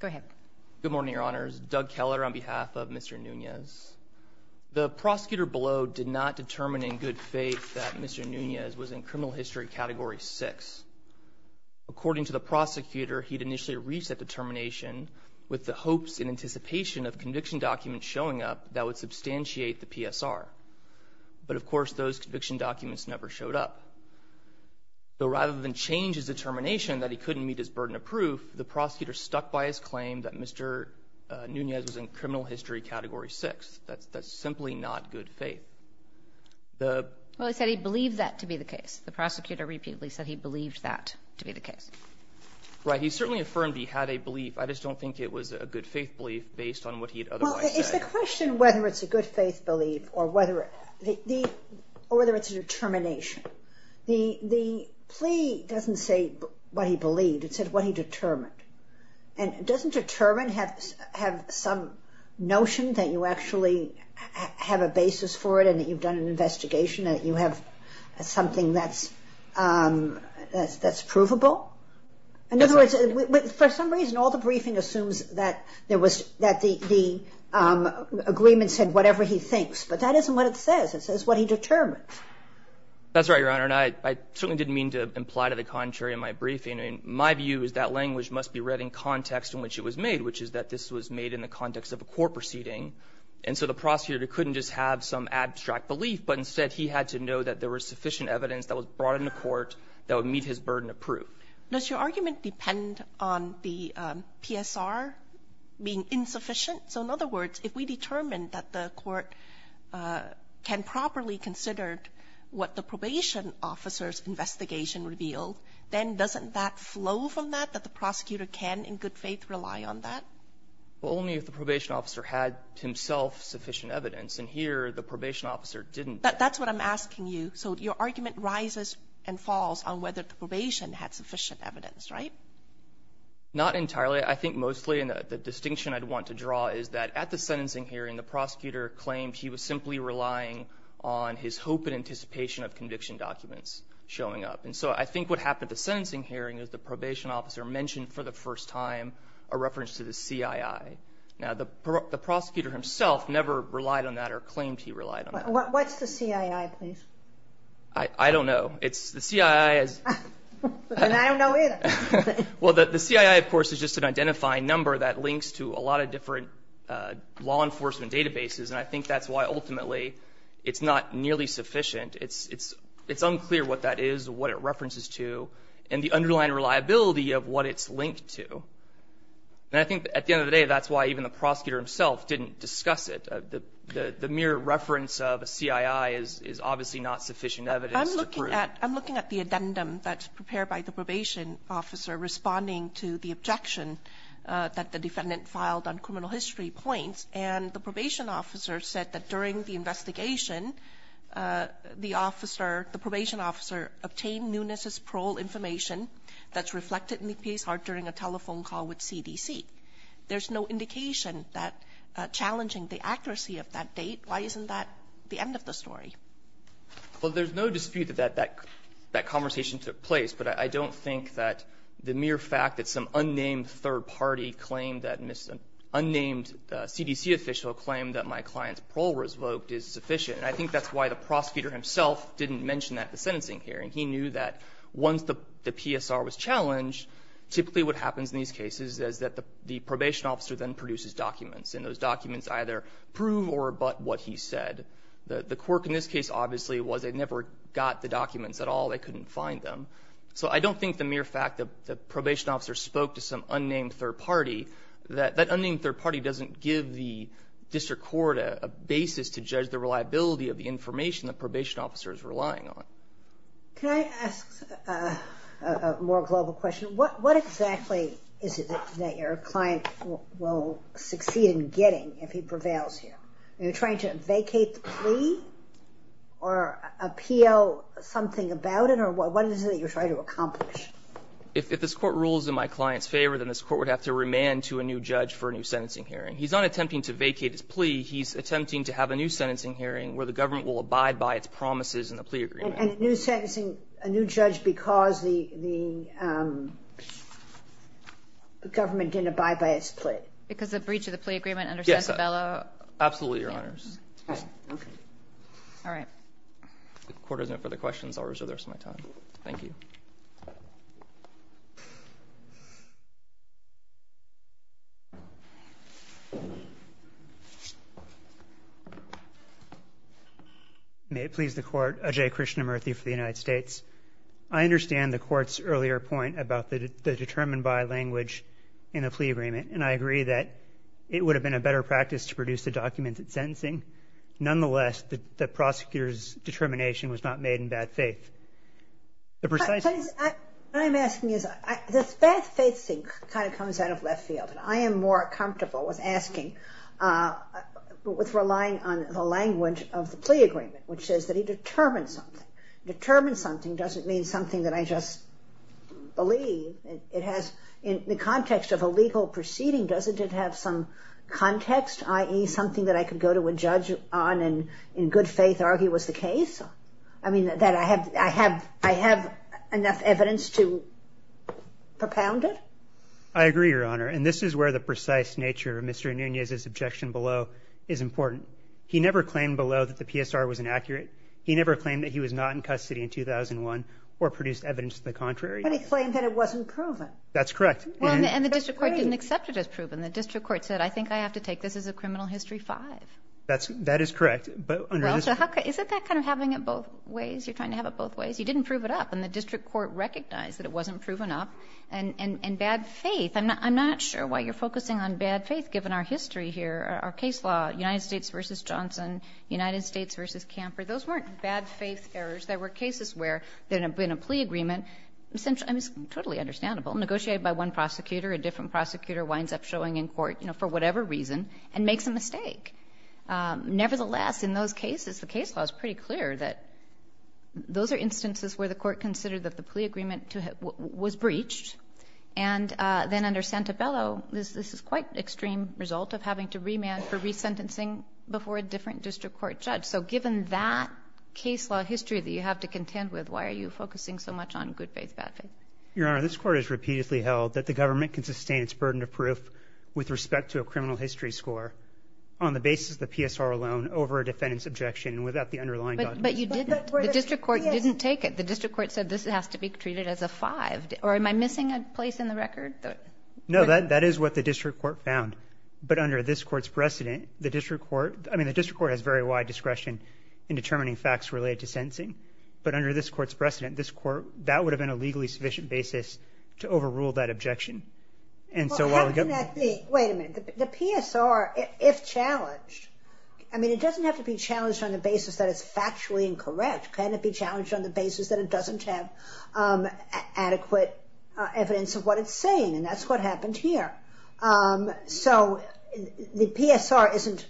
Go ahead. Good morning, Your Honors. Doug Keller on behalf of Mr. Nunez. The prosecutor below did not determine in good faith that Mr. Nunez was in criminal history category 6. According to the prosecutor, he'd initially reached that determination with the hopes and anticipation of conviction documents showing up that would substantiate the PSR. But of course, those conviction documents never showed up. So rather than change his determination that he couldn't meet his burden of proof, the prosecutor stuck by his claim that Mr. Nunez was in criminal history category 6. That's simply not good faith. Well, he said he believed that to be the case. The prosecutor repeatedly said he believed that to be the case. Right. He certainly affirmed he had a belief. I just don't think it was a good faith belief based on what he'd otherwise said. Well, it's the question whether it's a good he believed. It said what he determined. And doesn't determine have some notion that you actually have a basis for it and that you've done an investigation, that you have something that's provable? In other words, for some reason, all the briefing assumes that the agreement said whatever he thinks. But that isn't what it says. It says what he determined. That's right, Your Honor. That's exactly the contrary of my briefing. My view is that language must be read in context in which it was made, which is that this was made in the context of a court proceeding. And so the prosecutor couldn't just have some abstract belief, but instead he had to know that there was sufficient evidence that was brought into court that would meet his burden of proof. Does your argument depend on the PSR being insufficient? So in other words, if we determined that the court can properly consider what the probation officer's then doesn't that flow from that, that the prosecutor can in good faith rely on that? Well, only if the probation officer had himself sufficient evidence. And here, the probation officer didn't. That's what I'm asking you. So your argument rises and falls on whether the probation had sufficient evidence, right? Not entirely. I think mostly the distinction I'd want to draw is that at the sentencing hearing, the prosecutor claimed he was simply relying on his hope and anticipation of conviction documents showing up. And so I think what happened at the sentencing hearing is the probation officer mentioned for the first time a reference to the CII. Now, the prosecutor himself never relied on that or claimed he relied on that. What's the CII, please? I don't know. It's the CII. And I don't know either. Well, the CII, of course, is just an identifying number that links to a lot of different law enforcement databases. And I think that's why ultimately it's not nearly sufficient. It's unclear what that is, what it references to, and the underlying reliability of what it's linked to. And I think at the end of the day, that's why even the prosecutor himself didn't discuss it. The mere reference of a CII is obviously not sufficient evidence to prove it. I'm looking at the addendum that's prepared by the probation officer responding to the objection that the defendant filed on criminal history points. And the probation officer said that during the investigation, the officer, the probation officer obtained Nunez's parole information that's reflected in the PSR during a telephone call with CDC. There's no indication that challenging the accuracy of that date. Why isn't that the end of the story? Well, there's no dispute that that conversation took place. But I don't think that the mere fact that some unnamed third party claimed that, unnamed CDC official claimed that my client's vote is sufficient. And I think that's why the prosecutor himself didn't mention that at the sentencing hearing. He knew that once the PSR was challenged, typically what happens in these cases is that the probation officer then produces documents. And those documents either prove or abut what he said. The quirk in this case obviously was they never got the documents at all. They couldn't find them. So I don't think the mere fact that the probation officer spoke to some unnamed third party, that that unnamed third party doesn't give the district court a basis to judge the reliability of the information the probation officer is relying on. Can I ask a more global question? What exactly is it that your client will succeed in getting if he prevails here? Are you trying to vacate the plea or appeal something about it? Or what is it that you're trying to accomplish? If this court rules in client's favor, then this court would have to remand to a new judge for a new sentencing hearing. He's not attempting to vacate his plea. He's attempting to have a new sentencing hearing where the government will abide by its promises in the plea agreement. And a new sentencing, a new judge because the government didn't abide by its plea? Because the breach of the plea agreement under Sansevella? Absolutely, Your Honors. Okay. All right. If the court has no further questions, I'll reserve the rest of my time. Thank you. May it please the court. Ajay Krishnamurthy for the United States. I understand the court's earlier point about the determined by language in a plea agreement. And I agree that it would have been a better practice to produce a documented sentencing. Nonetheless, the prosecutor's determination was not made in bad faith. The precise... The bad faith thing kind of comes out of left field. And I am more comfortable with asking, but with relying on the language of the plea agreement, which says that he determines something. Determine something doesn't mean something that I just believe. It has, in the context of a legal proceeding, doesn't it have some context, i.e. something that I could go to a judge on and in good faith argue was the case? I mean, that I have enough evidence to propound it? I agree, Your Honor. And this is where the precise nature of Mr. Nunez's objection below is important. He never claimed below that the PSR was inaccurate. He never claimed that he was not in custody in 2001 or produced evidence to the contrary. But he claimed that it wasn't proven. That's correct. And the district court didn't accept it as proven. The district court said, I think I have to take this as a criminal history five. That is correct. Is that kind of having it both ways? You're trying to have it both ways. You didn't prove it up. And the district court recognized that it wasn't proven up. And bad faith, I'm not sure why you're focusing on bad faith given our history here, our case law, United States v. Johnson, United States v. Camper. Those weren't bad faith errors. There were cases where there had been a plea agreement, totally understandable, negotiated by one prosecutor, a different prosecutor winds up in court for whatever reason and makes a mistake. Nevertheless, in those cases, the case law is pretty clear that those are instances where the court considered that the plea agreement was breached. And then under Santabello, this is quite an extreme result of having to remand for resentencing before a different district court judge. So given that case law history that you have to contend with, why are you focusing so much on good faith, bad faith? Your Honor, this court has repeatedly held that the government can sustain its burden of proof with respect to a criminal history score on the basis of the PSR alone over a defendant's objection without the underlying document. But you didn't. The district court didn't take it. The district court said this has to be treated as a five. Or am I missing a place in the record? No, that is what the district court found. But under this court's precedent, the district court has very wide discretion in determining facts related to sentencing. But under this court's precedent, that would have been a legally sufficient basis to overrule that objection. Well, how can that be? Wait a minute. The PSR, if challenged, I mean, it doesn't have to be challenged on the basis that it's factually incorrect. Can it be challenged on the basis that it doesn't have adequate evidence of what it's saying? And that's what happened here. So the PSR isn't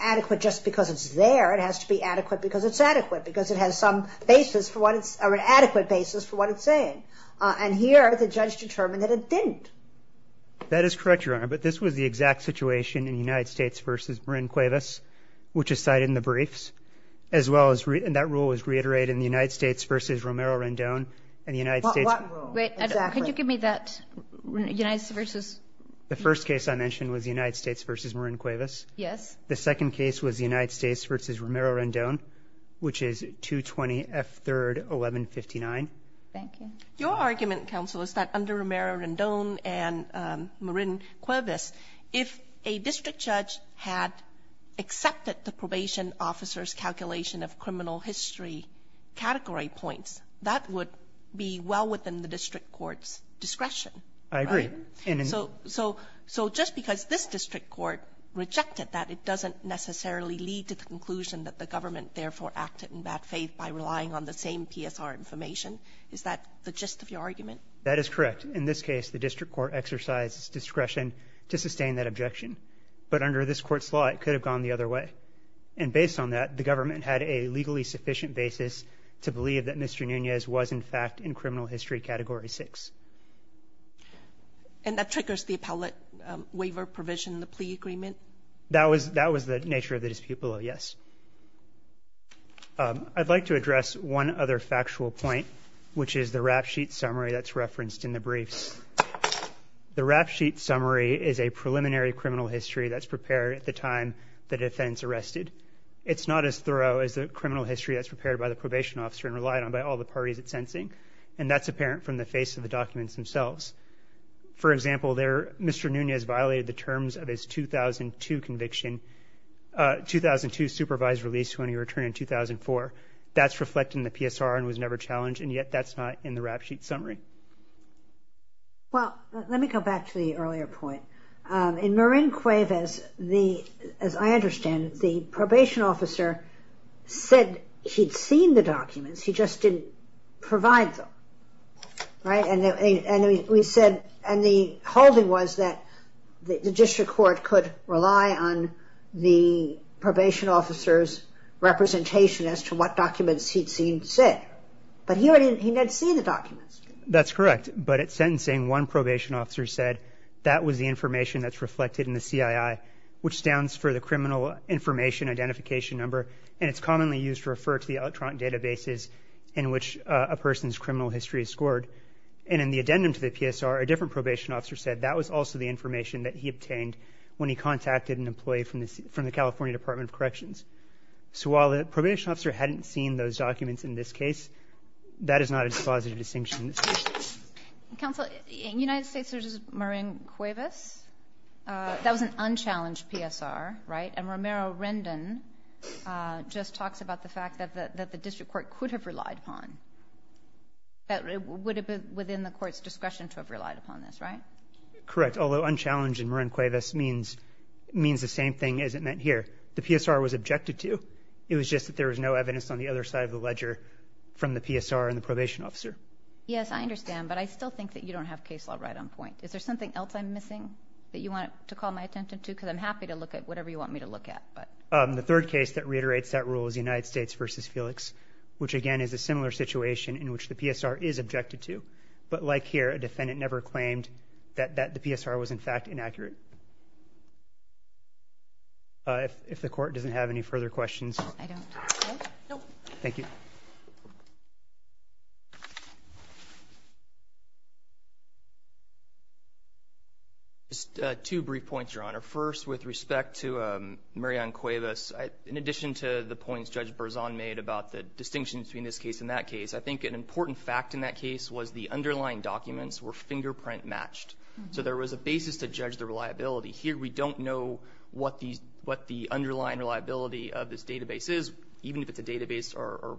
adequate just because it's there. It has to be adequate because it's adequate, because it has some basis for what it's or an adequate basis for what it's saying. And here, the judge determined that it didn't. That is correct, Your Honor. But this was the exact situation in United States v. Marin Cuevas, which is cited in the briefs, as well as that rule was reiterated in the United States v. Romero Rendon. And the United States... Wait, can you give me that? United States versus... The first case I mentioned was the United States v. Marin Cuevas. Yes. The second case was the United States v. Romero Rendon. And the third case is 220 F. 3rd, 1159. Thank you. Your argument, counsel, is that under Romero Rendon and Marin Cuevas, if a district judge had accepted the probation officer's calculation of criminal history category points, that would be well within the district court's discretion. I agree. Right? So just because this district court rejected that, it doesn't necessarily lead to the conclusion that the government therefore acted in bad faith by relying on the same PSR information. Is that the gist of your argument? That is correct. In this case, the district court exercised its discretion to sustain that objection. But under this court's law, it could have gone the other way. And based on that, the government had a legally sufficient basis to believe that Mr. Nunez was, in fact, in criminal history category 6. And that triggers the appellate waiver provision, the plea agreement? That was the nature of the dispute below, yes. I'd like to address one other factual point, which is the rap sheet summary that's referenced in the briefs. The rap sheet summary is a preliminary criminal history that's prepared at the time the defense arrested. It's not as thorough as the criminal history that's prepared by the probation officer and relied on by all the parties at sentencing. And that's apparent from the face of the documents themselves. For example, Mr. Nunez violated the terms of his 2002 conviction, 2002 supervised release when he returned in 2004. That's reflected in the PSR and was never challenged. And yet, that's not in the rap sheet summary. Well, let me go back to the earlier point. In Marin Cuevas, as I understand it, the probation officer said he'd seen the documents. He just didn't provide them. And the holding was that the district court could rely on the probation officer's representation as to what documents he'd seen said. But he didn't see the documents. That's correct. But at sentencing, one probation officer said that was the information that's reflected in the CII, which stands for the criminal information identification number. And it's commonly used to refer to the electronic databases in which a person's criminal history is scored. And in the addendum to the PSR, a different probation officer said that was also the information that he obtained when he contacted an employee from the California Department of Corrections. So while the probation officer hadn't seen those documents in this case, that is not a dispositive distinction. Counsel, in the United States, there's Marin Cuevas. That was an unchallenged PSR, right? Romero Rendon just talks about the fact that the district court could have relied upon. That it would have been within the court's discretion to have relied upon this, right? Correct. Although unchallenged in Marin Cuevas means the same thing as it meant here. The PSR was objected to. It was just that there was no evidence on the other side of the ledger from the PSR and the probation officer. Yes, I understand. But I still think that you don't have case law right on point. Is there something else I'm missing that you want to call my attention to? Because I'm happy to look at whatever you want me to look at. The third case that reiterates that rule is the United States versus Felix, which again is a similar situation in which the PSR is objected to. But like here, a defendant never claimed that the PSR was in fact inaccurate. If the court doesn't have any further questions. Thank you. Just two brief points, Your Honor. First, with respect to Marin Cuevas, in addition to the points Judge Berzon made about the distinction between this case and that case, I think an important fact in that case was the underlying documents were fingerprint matched. So there was a basis to judge the reliability. Here, we don't know what the underlying reliability of this database is, even if it's a database or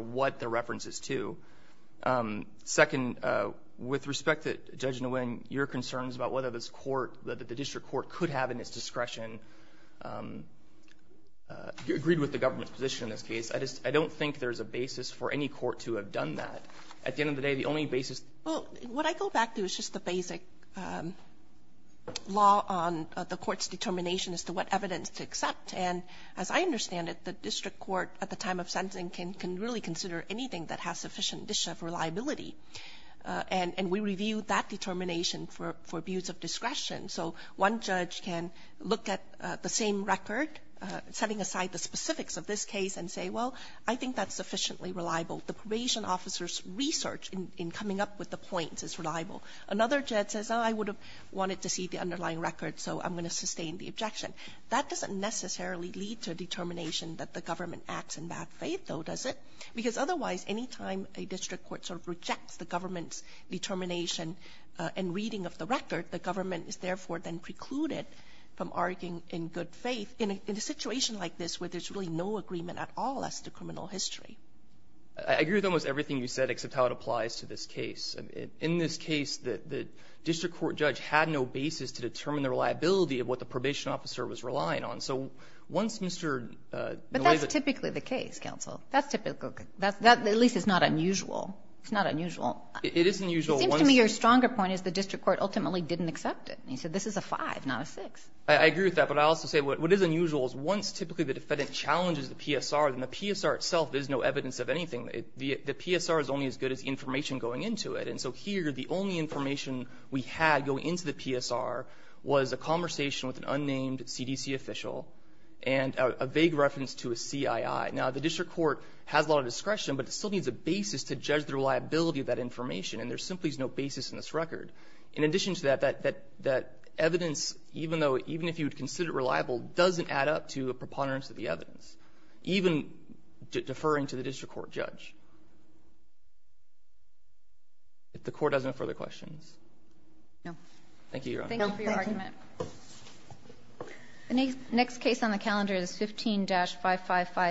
what the reference is to. Second, with respect to Judge Nguyen, your concerns about whether the district court could have in its discretion agreed with the government's position in this case, I don't think there's a basis for any court to have done that. At the end of the day, the only basis... Well, what I go back to is just the basic law on the court's determination as to what evidence to accept. And as I understand it, the district court at the time of sentencing can really consider anything that has sufficient distinction of reliability. And we review that determination for views of discretion. So one judge can look at the same record, setting aside the specifics of this case and say, well, I think that's sufficiently reliable. The probation officer's research in coming up with the points is reliable. Another judge says, oh, I would have wanted to see the underlying record, so I'm going to sustain the objection. That doesn't necessarily lead to a determination that the government acts in bad faith, though, does it? Because otherwise, any time a district court sort of rejects the government's determination and reading of the record, the government is therefore then precluded from arguing in good faith in a situation like this where there's really no agreement at all as to criminal history. I agree with almost everything you said except how it applies to this case. In this case, the district court judge had no basis to determine the reliability of what the probation officer was relying on. So once Mr. Nolaisa... But that's typically the case, counsel. That's typical. That at least is not unusual. It's not unusual. It is unusual. It seems to me your stronger point is the district court ultimately didn't accept it. He said this is a five, not a six. I agree with that. But I also say what is unusual is once typically the defendant challenges the PSR, then the PSR itself is no evidence of anything. The PSR is only as good as the information going into it. And so here, the only information we had going into the PSR was a conversation with an unnamed CDC official and a vague reference to a CII. Now, the district court has a lot of discretion, but it still needs a basis to judge the reliability of that information. And there simply is no basis in this record. In addition to that, that evidence, even if you would consider it reliable, doesn't add up to a preponderance of the evidence, even deferring to the district court judge. If the court has no further questions. No. Thank you, Your Honor. Thank you for your argument. The next case on the calendar is 15-555.